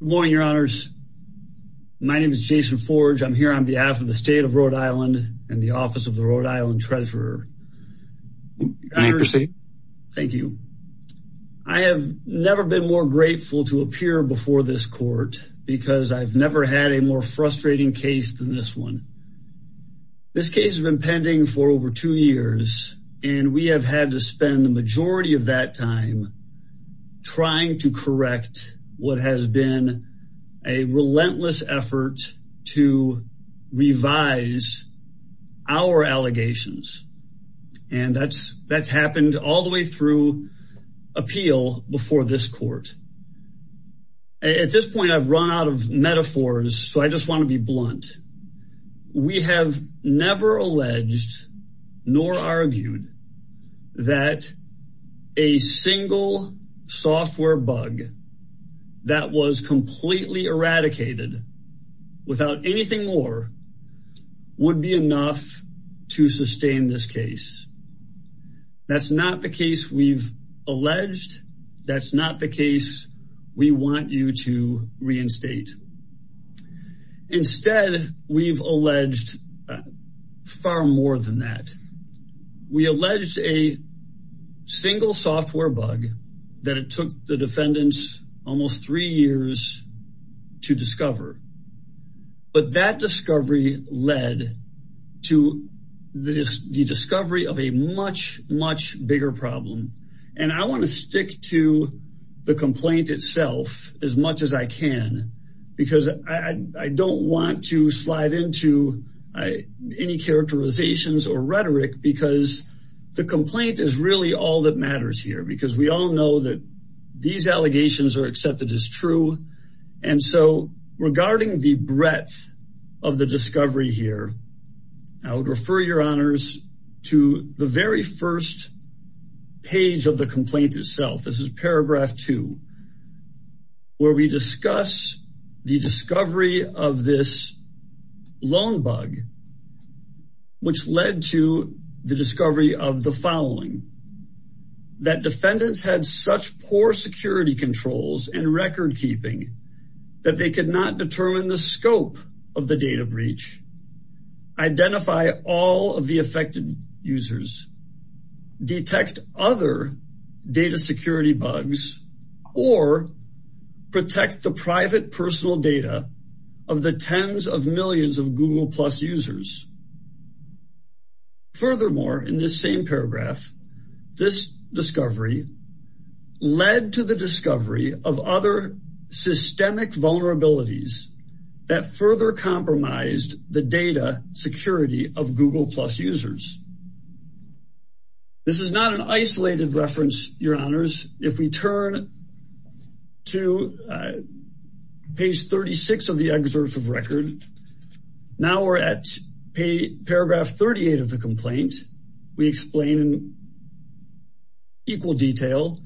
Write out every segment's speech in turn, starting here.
Good morning, your honors. My name is Jason Forge. I'm here on behalf of the state of Rhode Island and the office of the Rhode Island treasurer. Thank you. I have never been more grateful to appear before this court because I've never had a more frustrating case than this one. This case has been pending for over two years and we have had to spend the majority of that time trying to correct what has been a relentless effort to revise our allegations. And that's happened all the way through appeal before this court. At this point, I've run out of metaphors, so I just want to be blunt. We have never alleged nor argued that a single software bug that was completely eradicated without anything more would be enough to sustain this case. That's not the case we've alleged far more than that. We alleged a single software bug that it took the defendants almost three years to discover. But that discovery led to the discovery of a much, much bigger problem. I want to stick to the complaint itself as much as I can because I don't want to slide into any characterizations or rhetoric because the complaint is really all that matters here. We all know that these allegations are accepted as true. Regarding the breadth of the discovery here, I would refer your honors to the very first page of the complaint itself. This is paragraph two where we discuss the discovery of this loan bug, which led to the discovery of the following. That defendants had such poor security controls and record keeping that they could not determine the scope of the data breach, identify all of the affected users, detect other data security bugs, or protect the private personal data of the tens of millions of Google Plus users. Furthermore, in this same paragraph, this discovery led to the discovery of other systemic vulnerabilities that further compromised the data security of Google Plus users. This is not an isolated reference, your honors. If we turn to page 36 of the excerpt of record, now we're at paragraph 38 of the complaint. We explain in equal detail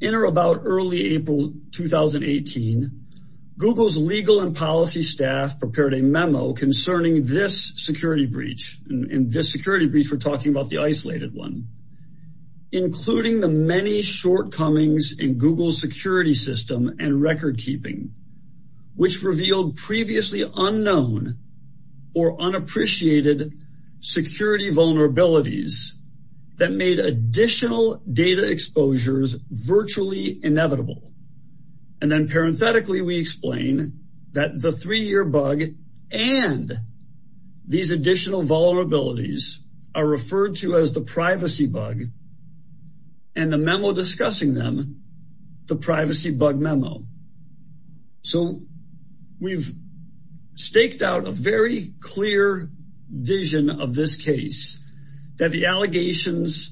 in or about early April 2018, Google's legal and policy staff prepared a memo concerning this security breach. In this security breach, we're talking about the isolated one, including the many shortcomings in Google's security system and record keeping, which revealed previously unknown or unappreciated security vulnerabilities that made additional data exposures virtually inevitable. And then parenthetically, we explain that the three-year bug and these additional vulnerabilities are referred to as the privacy bug and the memo discussing them, the privacy bug memo. So we've staked out a very clear vision of this case, that the allegations,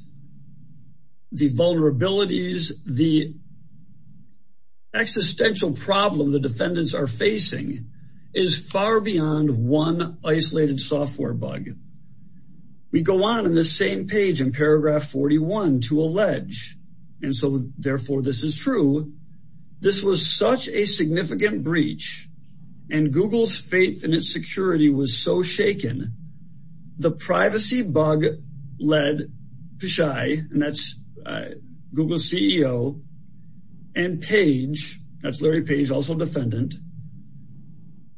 the vulnerabilities, the existential problem the defendants are facing is far beyond one isolated software bug. We go on in this same page in paragraph 41 to allege, and so therefore this is true, this was such a significant breach and Google's faith in its security was so shaken, the privacy bug led Pichai, and that's Google's CEO, and Page, that's Larry Page, also defendant,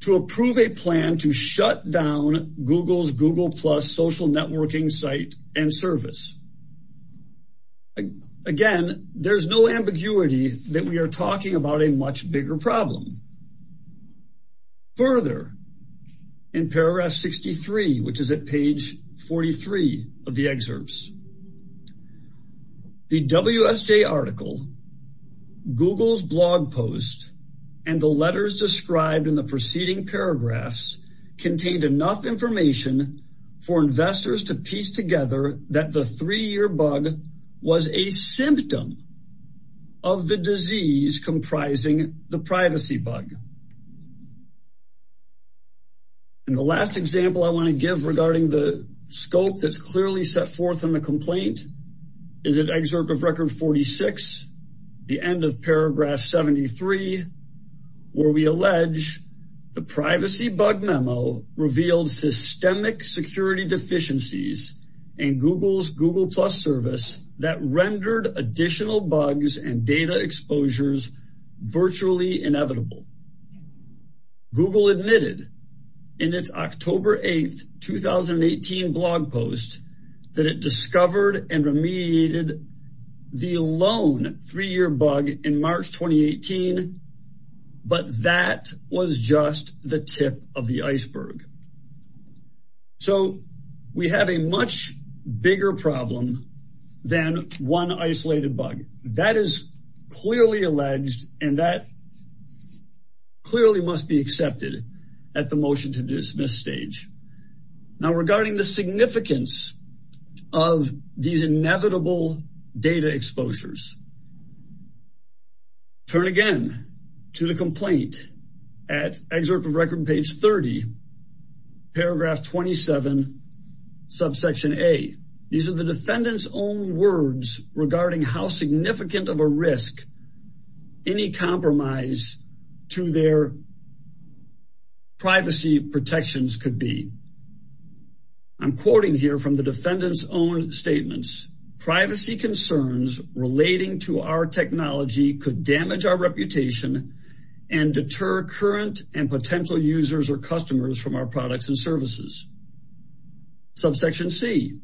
to approve a plan to shut down Google's Google Plus social networking site and service. Again, there's no ambiguity that we are talking about a much bigger problem. Further, in paragraph 63, which is at page 43 of the excerpts, the WSJ article, Google's blog post, and the letters described in the preceding paragraphs contained enough information for investors to piece together that the three-year bug was a symptom of the disease comprising the privacy bug. And the last example I want to give regarding the scope that's clearly set forth in the complaint is an excerpt of record 46, the end of paragraph 73, where we allege the privacy bug memo revealed systemic security deficiencies in Google's Google Plus service that rendered additional bugs and data exposures virtually inevitable. Google admitted in its October 8, 2018 blog post that it discovered and remediated the lone three-year bug in March 2018, but that was just the tip of the iceberg. So we have a much bigger problem than one isolated bug. That is clearly alleged, and that clearly must be accepted at the motion to dismiss stage. Now, regarding the significance of these inevitable data exposures, turn again to the complaint at excerpt of record page 30, paragraph 27, subsection A. These are the defendant's own words regarding how significant of a risk any compromise to their privacy protections could be. I'm quoting here from the defendant's own statements, privacy concerns relating to our technology could damage our reputation and deter current and potential users or customers from our products and services. Subsection C,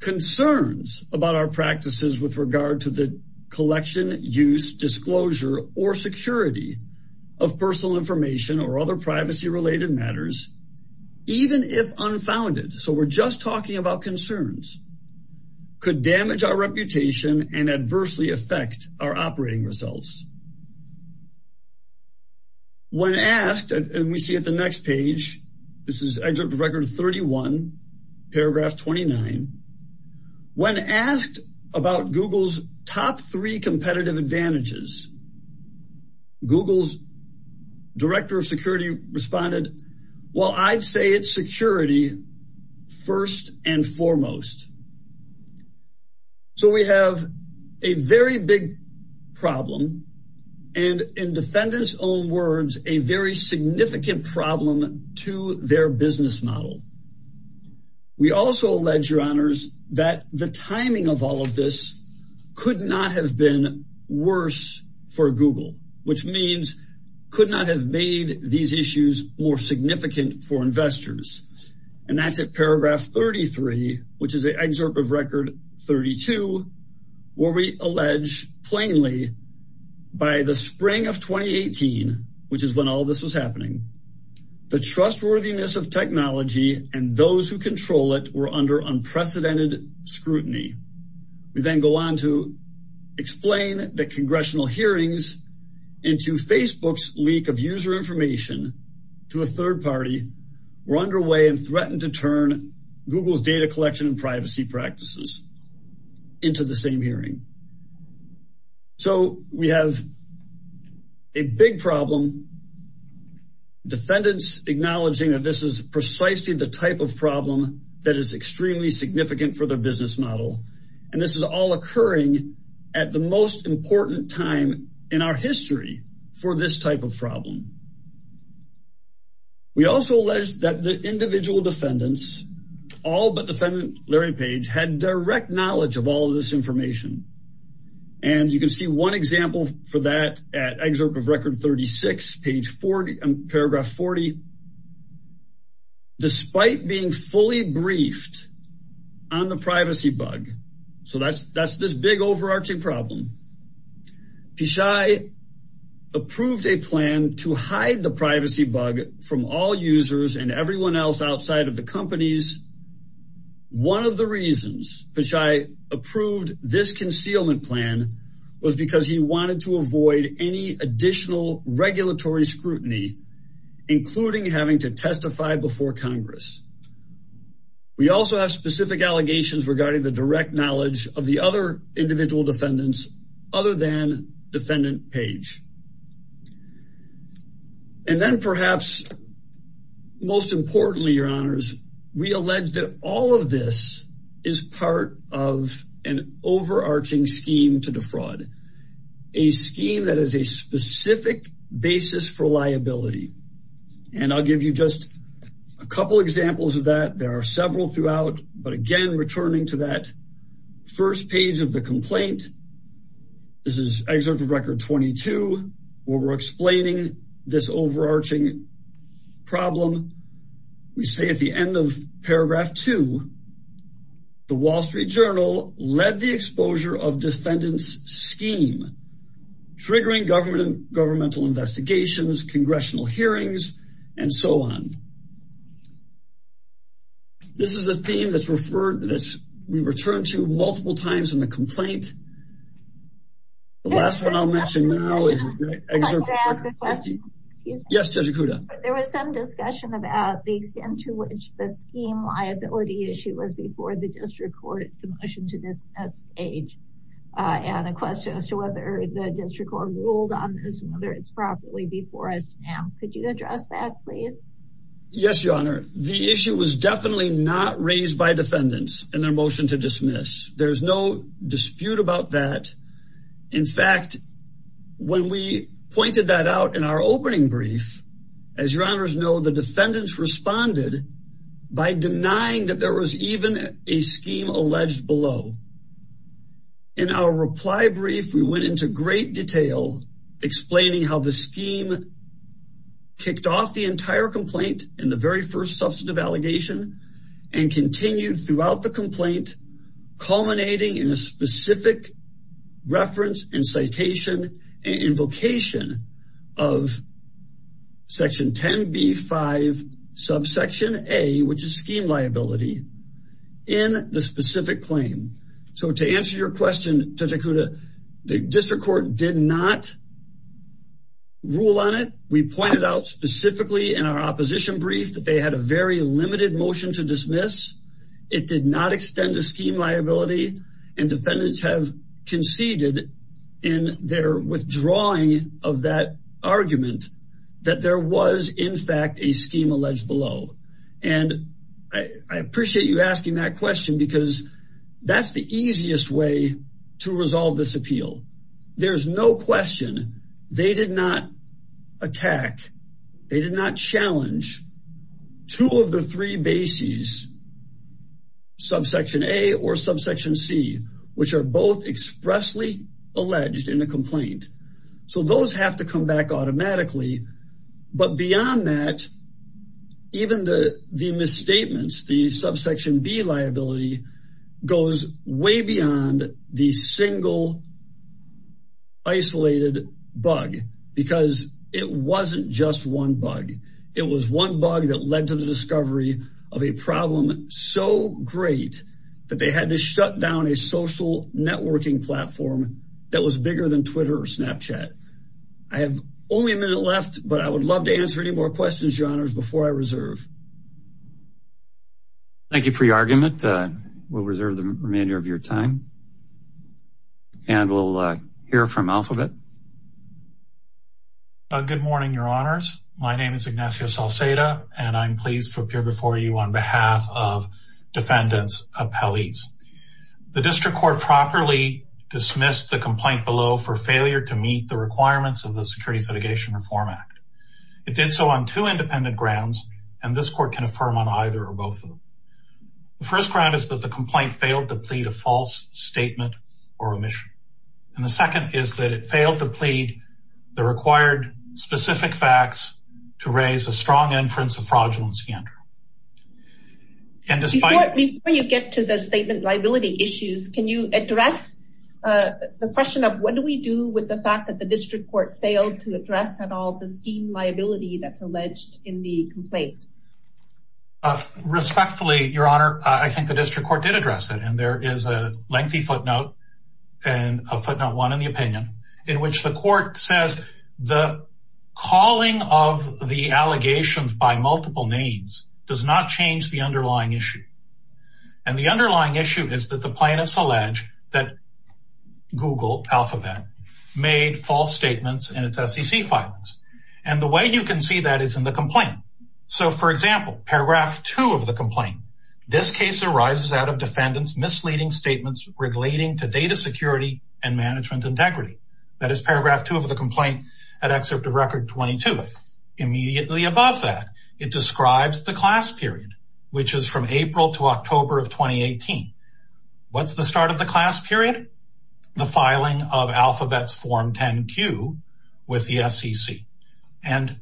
concerns about our practices with regard to the collection, use, disclosure, or security of personal information or other privacy-related matters, even if unfounded. So we're just talking about concerns. Could damage our reputation and adversely affect our operating results. When asked, and we see at the next page, this is excerpt of record 31, paragraph 29. When asked about Google's top three competitive advantages, Google's director of security responded, well, I'd say it's security first and foremost. So we have a very big problem and in defendant's own words, a very significant problem to their business model. We also allege, your honors, that the timing of all of this could not have been worse for Google, which means could not have made these issues more significant for investors. And that's at paragraph 33, which is an excerpt of record 32, where we allege plainly by the spring of 2018, which is when all of this was happening, the trustworthiness of technology and those who control it were under unprecedented scrutiny. We then go on to explain the turn Google's data collection and privacy practices into the same hearing. So we have a big problem. Defendants acknowledging that this is precisely the type of problem that is extremely significant for their business model. And this is all occurring at the most important time in our history for this type of problem. We also allege that the individual defendants, all but defendant Larry Page, had direct knowledge of all of this information. And you can see one example for that at excerpt of record 36, page 40, paragraph 40, despite being fully briefed on the privacy bug. So that's this big hide the privacy bug from all users and everyone else outside of the companies. One of the reasons which I approved this concealment plan was because he wanted to avoid any additional regulatory scrutiny, including having to testify before Congress. We also have specific allegations regarding the direct knowledge of the other individual defendants other than defendant Page. And then perhaps most importantly, your honors, we allege that all of this is part of an overarching scheme to defraud, a scheme that is a specific basis for liability. And I'll give you just a couple examples of that. There are several throughout, but again, returning to that first page of the complaint, this is excerpt of record 22, where we're explaining this overarching problem. We say at the end of paragraph two, the Wall Street Journal led the exposure of defendants scheme, triggering government and governmental investigations, congressional hearings, and so on. This is a theme that's referred to this, we returned to multiple times in the complaint. The last one I'll mention now is, yes, there was some discussion about the extent to which the scheme liability issue was before the district court, the motion to this stage, and a question as to whether the district court ruled on this and whether it's properly before us. Could you address that, please? Yes, your honor. The issue was definitely not raised by defendants in their motion to dismiss. There's no dispute about that. In fact, when we pointed that out in our opening brief, as your honors know, the defendants responded by denying that there was even a scheme alleged below. In our reply brief, we went into great detail explaining how the scheme kicked off the entire complaint in the very first substantive allegation and continued throughout the complaint, culminating in a specific reference and citation and invocation of section 10B5 subsection A, which is scheme liability, in the specific claim. To answer your question, Judge Acuda, the district court did not rule on it. We pointed out specifically in our opposition brief that they had a very limited motion to dismiss. It did not extend the scheme liability, and defendants have conceded in their withdrawing of that argument that there was, in fact, a scheme alleged below. I appreciate you asking that question because that's the easiest way to resolve this appeal. There's no question. They did not attack. They did not challenge two of the three bases, subsection A or subsection C, which are both expressly alleged in the complaint. Those have to come back automatically. But beyond that, even the misstatements, the subsection B liability goes way beyond the single isolated bug because it wasn't just one bug. It was one bug that led to the discovery of a problem so great that they had to shut down a social networking platform that was bigger than I would love to answer any more questions, Your Honors, before I reserve. Thank you for your argument. We'll reserve the remainder of your time, and we'll hear from Alphabet. Good morning, Your Honors. My name is Ignacio Salceda, and I'm pleased to appear before you on behalf of defendants' appellees. The district court properly dismissed the complaint below for It did so on two independent grounds, and this court can affirm on either or both of them. The first ground is that the complaint failed to plead a false statement or omission, and the second is that it failed to plead the required specific facts to raise a strong inference of fraudulence. Before you get to the statement liability issues, can you address the question of what do we do with the fact that the district court failed to address at all the scheme liability that's alleged in the complaint? Respectfully, Your Honor, I think the district court did address it, and there is a lengthy footnote and a footnote one in the opinion in which the court says the calling of the allegations by multiple names does not change the underlying issue, and the underlying issue is that the plaintiffs allege that Google Alphabet made false statements in its SEC filings, and the way you can see that is in the complaint. So, for example, paragraph two of the complaint, this case arises out of defendants' misleading statements relating to data security and management integrity. That is paragraph two of the complaint at excerpt of record 22. Immediately above that, it describes the class period, which is from April to October of 2018. What's the start of the class period? The filing of Alphabet's Form 10-Q with the SEC, and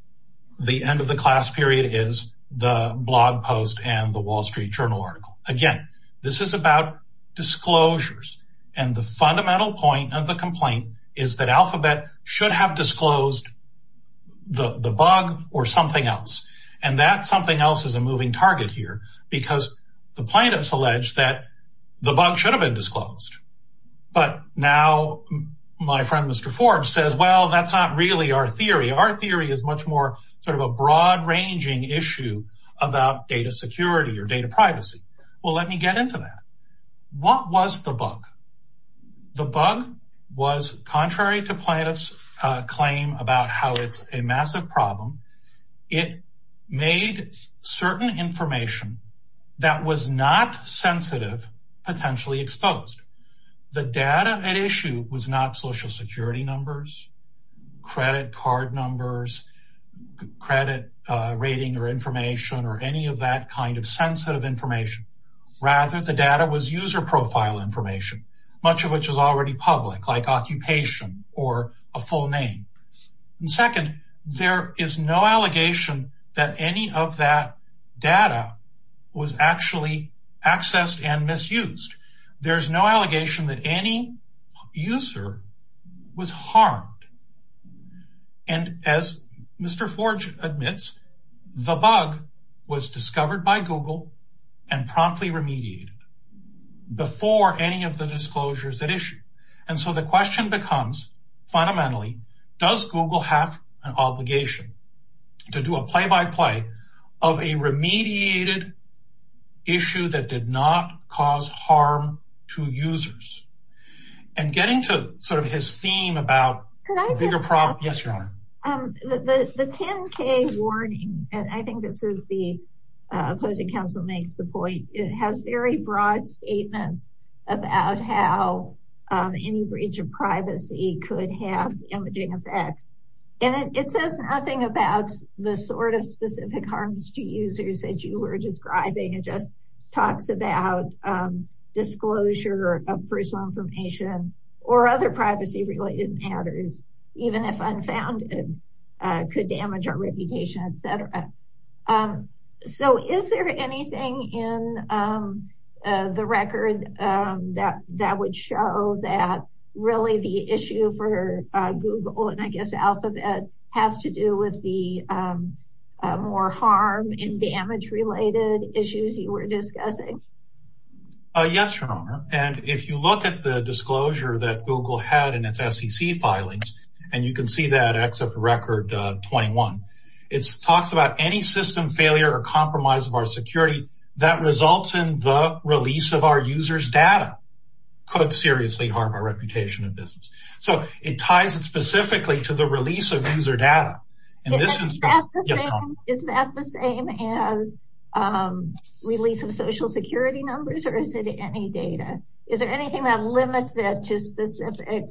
the end of the class period is the blog post and the Wall Street Journal article. Again, this is about disclosures, and the fundamental point of the complaint is that Alphabet should have disclosed the bug or something else, and that something else is a moving target here because the plaintiffs allege that the bug should have been disclosed, but now my friend Mr. Forbes says, well, that's not really our theory. Our theory is much more sort of a broad-ranging issue about data security or data privacy. Well, let me get into that. What was the bug? The bug was contrary to plaintiff's about how it's a massive problem. It made certain information that was not sensitive potentially exposed. The data at issue was not social security numbers, credit card numbers, credit rating or information, or any of that kind of sensitive information. Rather, the data was profile information, much of which is already public, like occupation or a full name. Second, there is no allegation that any of that data was actually accessed and misused. There's no allegation that any user was harmed, and as Mr. Forbes admits, the bug was discovered by Google and promptly remediated before any of the disclosures at issue. And so the question becomes, fundamentally, does Google have an obligation to do a play-by-play of a remediated issue that did not cause harm to users? And getting to sort of his theme about the 10K warning, and I think this is the opposing counsel makes the point, it has very broad statements about how any breach of privacy could have imaging effects. And it says nothing about the sort of specific harms to users that you were describing. It just about disclosure of personal information or other privacy-related matters, even if unfounded, could damage our reputation, et cetera. So is there anything in the record that would show that really the issue for Google, and I guess Alphabet, has to do with the more harm and damage issues you were discussing? Yes, and if you look at the disclosure that Google had in its SEC filings, and you can see that except record 21, it talks about any system failure or compromise of our security that results in the release of our users' data could seriously harm our reputation and business. So it ties it specifically to the release of user data. Is that the same as release of social security numbers, or is it any data? Is there anything that limits it to specific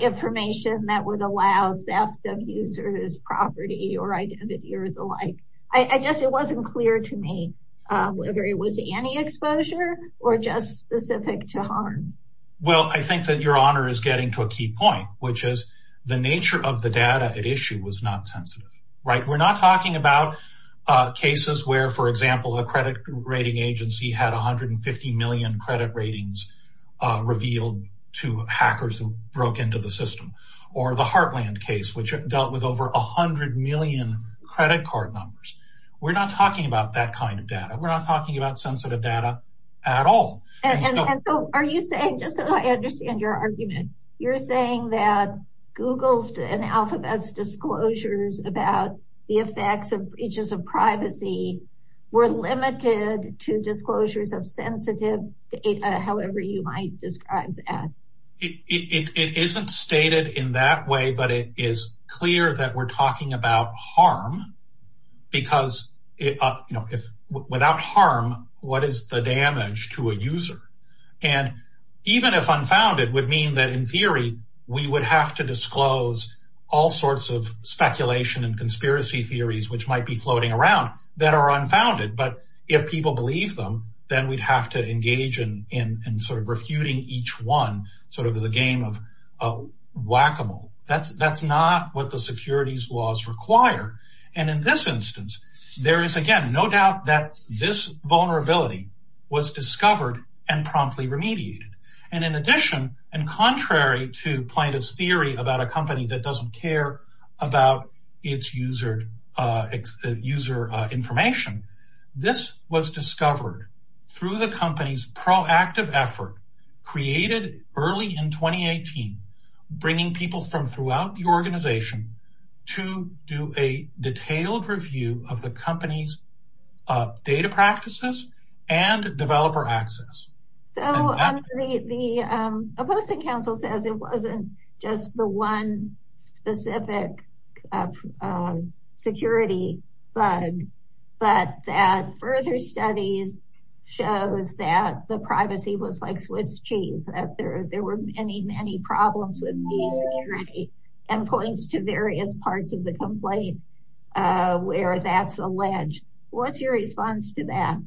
information that would allow theft of users' property or identity or the like? I guess it wasn't clear to me whether it was any exposure or just specific to harm. Well, I think that your honor is getting to a key point, which is the nature of the data at issue was not sensitive. We're not talking about cases where, for example, a credit rating agency had 150 million credit ratings revealed to hackers who broke into the system, or the Heartland case, which dealt with over 100 million credit card numbers. We're not talking about that kind of data. We're not talking about sensitive data at all. Are you saying, just so I understand your argument, you're saying that Google's and Alphabet's disclosures about the effects of breaches of privacy were limited to disclosures of sensitive data, however you might describe that? It isn't stated in that way, but it is And even if unfounded, it would mean that, in theory, we would have to disclose all sorts of speculation and conspiracy theories, which might be floating around, that are unfounded. But if people believe them, then we'd have to engage in refuting each one as a game of whack-a-mole. That's not what the securities laws require. And in this instance, there is, again, no doubt that this vulnerability was discovered and promptly remediated. And in addition, and contrary to plaintiff's theory about a company that doesn't care about its user information, this was discovered through the company's proactive effort created early in 2018, bringing people from throughout the organization to do a detailed review of the company's data practices and developer access. So the opposing counsel says it wasn't just the one specific security bug, but that further studies shows that the privacy was like Swiss cheese, that there were many, many problems with the security, and points to various parts of the The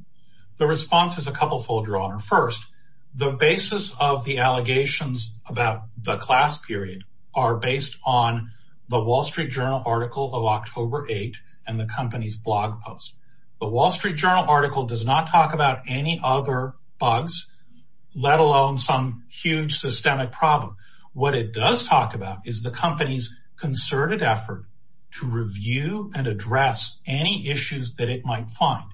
response is a couple-fold, Your Honor. First, the basis of the allegations about the class period are based on the Wall Street Journal article of October 8th and the company's blog post. The Wall Street Journal article does not talk about any other bugs, let alone some huge systemic problem. What it does talk about is the company's concerted effort to review and address any issues that it might find.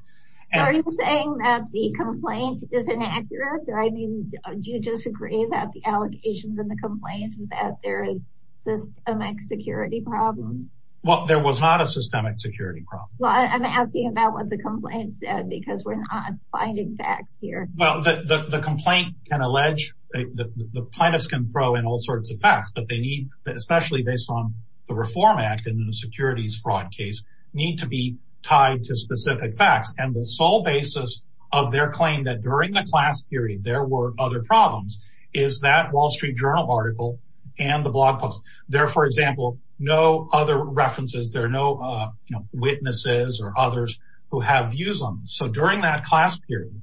Are you saying that the complaint is inaccurate? I mean, do you disagree that the allegations in the complaint is that there is systemic security problems? Well, there was not a systemic security problem. Well, I'm asking about what the complaint said, because we're not finding facts here. Well, the complaint can allege, the plaintiffs can throw in all sorts of facts, but they need, especially based on the Reform Act and the securities fraud case, need to be tied to specific facts. And the sole basis of their claim that during the class period there were other problems is that Wall Street Journal article and the blog post. There, for example, no other references, there are no, you know, witnesses or others who have views on them. So during that class period,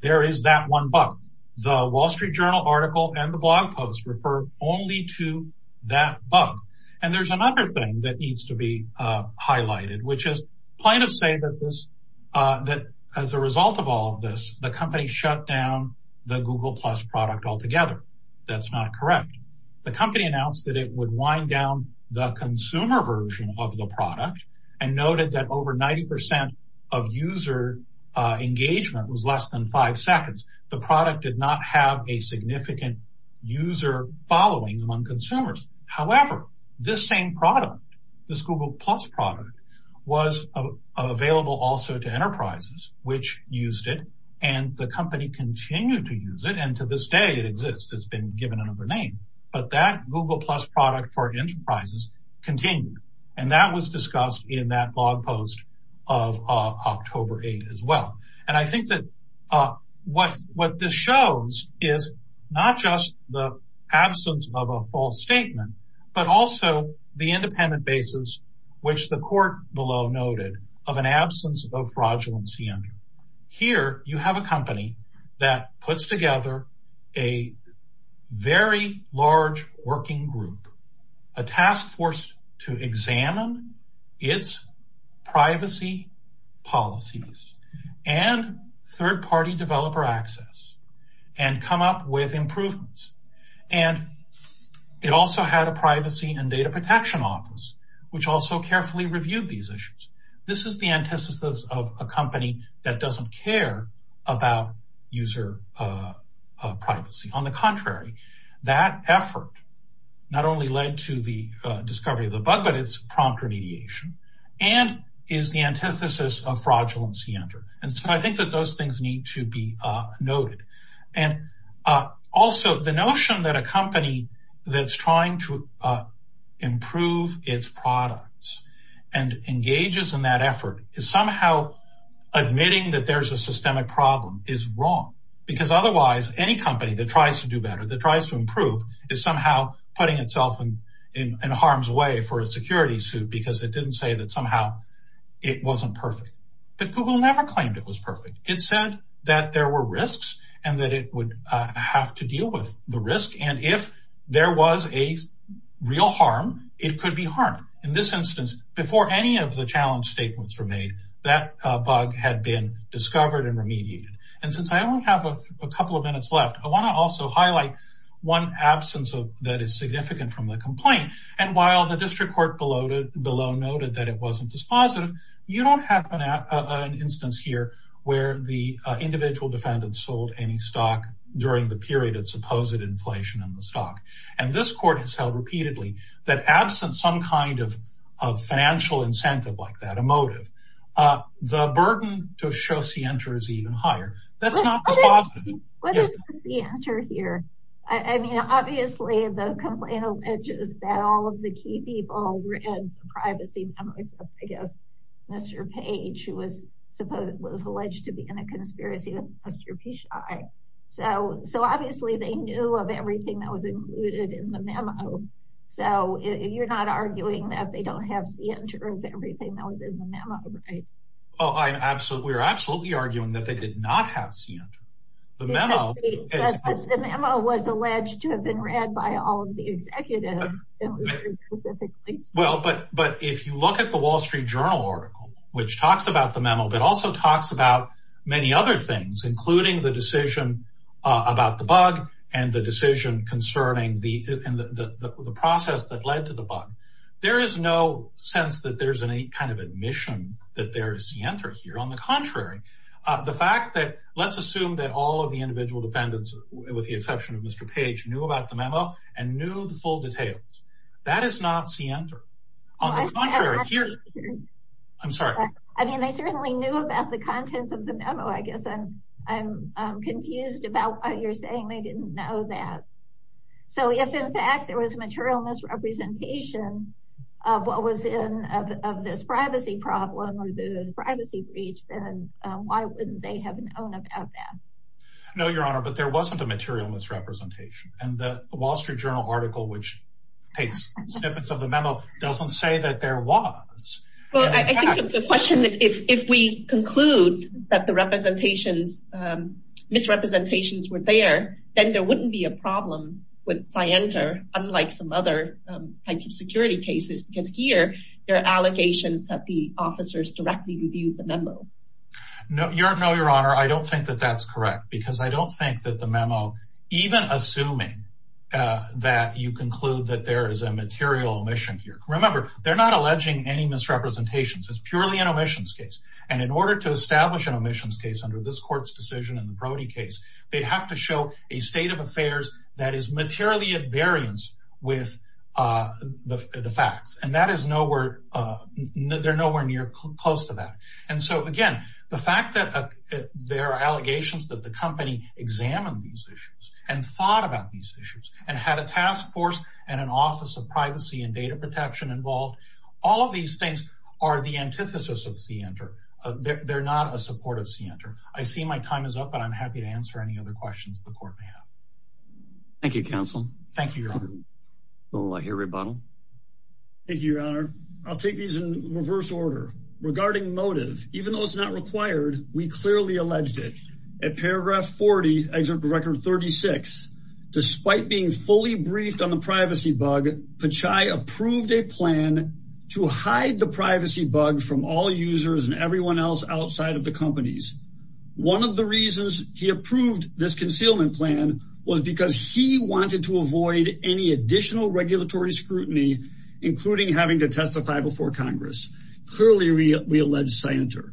there is that one bug. The Wall Street Journal article and the blog post refer only to that bug. And there's another thing that needs to be highlighted, which is plaintiffs say that as a result of all of this, the company shut down the Google Plus product altogether. That's not correct. The company announced that it would wind down the consumer version of the product and noted that over 90% of user engagement was less than five seconds. The product did not have a significant user following among consumers. However, this same product, this Google Plus product, was available also to enterprises, which used it, and the company continued to use it, and to this day it exists. It's been given another name. But that Google Plus product for enterprises continued, and that was discussed in that blog post of October 8 as well. And I think that what this shows is not just the absence of a false statement, but also the independent basis, which the court below noted, of an absence of fraudulency under. Here, you have a company that puts together a very large working group, a task force to examine its privacy policies and third-party developer access and come up with improvements. And it also had a privacy and data protection office, which also carefully reviewed these issues. This is the antithesis of a company that doesn't care about user privacy. On the contrary, that effort not only led to the discovery of the bug, but its prompt remediation, and is the antithesis of fraudulency under. And so I think that those things need to be noted. Also, the notion that a company that's trying to improve its products and engages in that effort is somehow admitting that there's a systemic problem is wrong, because otherwise any company that tries to do better, that tries to improve, is somehow putting itself in harm's way for a security suit because it didn't say that somehow it wasn't perfect. But Google never claimed it was perfect. It said that there were risks and that it would have to deal with the risk. And if there was a real harm, it could be harmed. In this instance, before any of the challenge statements were made, that bug had been discovered and remediated. And since I only have a couple of highlights, one absence that is significant from the complaint. And while the district court below noted that it wasn't dispositive, you don't have an instance here where the individual defendant sold any stock during the period of supposed inflation in the stock. And this court has held repeatedly that absent some kind of financial incentive like that, a motive, the burden to show scienter is even higher. That's not dispositive. What is the scienter here? I mean, obviously, the complaint alleges that all of the key people read the privacy numbers of, I guess, Mr. Page, who was alleged to be in a conspiracy with Mr. Pesci. So obviously, they knew of everything that was included in the memo. So you're not Oh, I'm absolutely we're absolutely arguing that they did not have seen the memo. The memo was alleged to have been read by all of the executives. Well, but but if you look at the Wall Street Journal article, which talks about the memo, but also talks about many other things, including the decision about the bug, and the decision concerning the process that led to the bug. There is no sense that there's any kind of admission that there is scienter here. On the contrary, the fact that let's assume that all of the individual defendants, with the exception of Mr. Page knew about the memo and knew the full details. That is not scienter. On the contrary here. I'm sorry. I mean, they certainly knew about the contents of the memo, I guess. And I'm confused about what you're saying. They didn't know that. So if in fact, there was a material misrepresentation of what was in this privacy problem, or the privacy breach, then why wouldn't they have known about that? No, Your Honor, but there wasn't a material misrepresentation. And the Wall Street Journal article, which takes snippets of the memo doesn't say that there was. Well, I think the question is, if we conclude that the representations, misrepresentations were there, then there wouldn't be a problem with scienter, unlike some other types of security cases, because here there are allegations that the officers directly reviewed the memo. No, Your Honor, I don't think that that's correct, because I don't think that the memo, even assuming that you conclude that there is a material omission here. Remember, they're not alleging any misrepresentations. It's purely an omissions case. And in order to in the Brody case, they'd have to show a state of affairs that is materially at variance with the facts. And that is nowhere. They're nowhere near close to that. And so again, the fact that there are allegations that the company examined these issues and thought about these issues and had a task force and an Office of Privacy and Data Protection involved. All of these things are the antithesis of scienter. They're not a supportive scienter. I see my time is up, but I'm happy to answer any other questions the court may have. Thank you, counsel. Thank you, Your Honor. We'll let you rebuttal. Thank you, Your Honor. I'll take these in reverse order. Regarding motive, even though it's not required, we clearly alleged it at paragraph 40, Excerpt of Record 36. Despite being fully briefed on the privacy bug, Pechay approved a plan to hide the privacy bug from all users and one of the reasons he approved this concealment plan was because he wanted to avoid any additional regulatory scrutiny, including having to testify before Congress. Clearly, we allege scienter.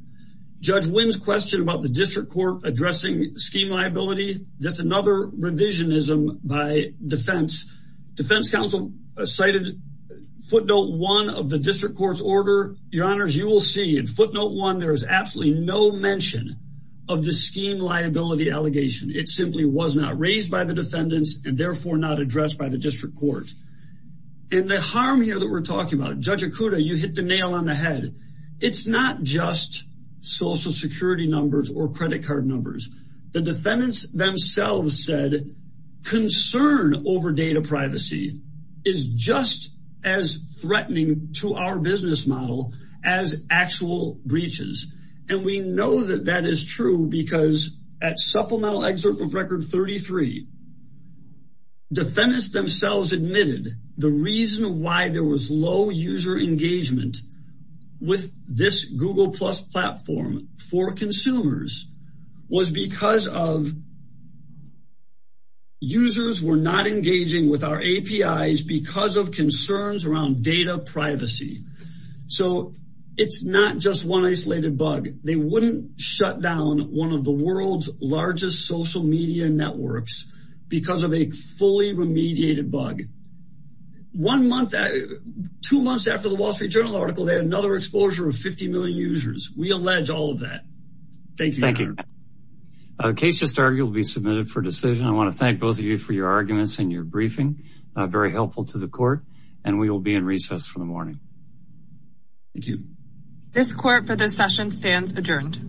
Judge Wynn's question about the district court addressing scheme liability. That's another revisionism by defense. Defense counsel cited footnote one of the district court's order. Your Honor, as you will see in footnote one, there is absolutely no mention of the scheme liability allegation. It simply was not raised by the defendants and therefore not addressed by the district court. The harm here that we're talking about, Judge Okuda, you hit the nail on the head. It's not just social security numbers or credit card numbers. The defendants themselves said concern over data privacy is just as threatening to our business model as actual breaches and we know that that is true because at Supplemental Excerpt of Record 33, defendants themselves admitted the reason why there was low user engagement with this Google Plus platform for consumers was because users were not engaging with our APIs because of concerns around data privacy. It's not just one isolated bug. They wouldn't shut down one of the world's largest social media networks because of a fully remediated bug. One month, two months after the Wall Street Journal article, they had another exposure of 50 million users. We allege all of that. Thank you. Thank you. A case just argued will be submitted for decision. I want to thank both of you for your arguments and your briefing. Very helpful to the court and we will be in recess for the morning. Thank you. This court for this session stands adjourned.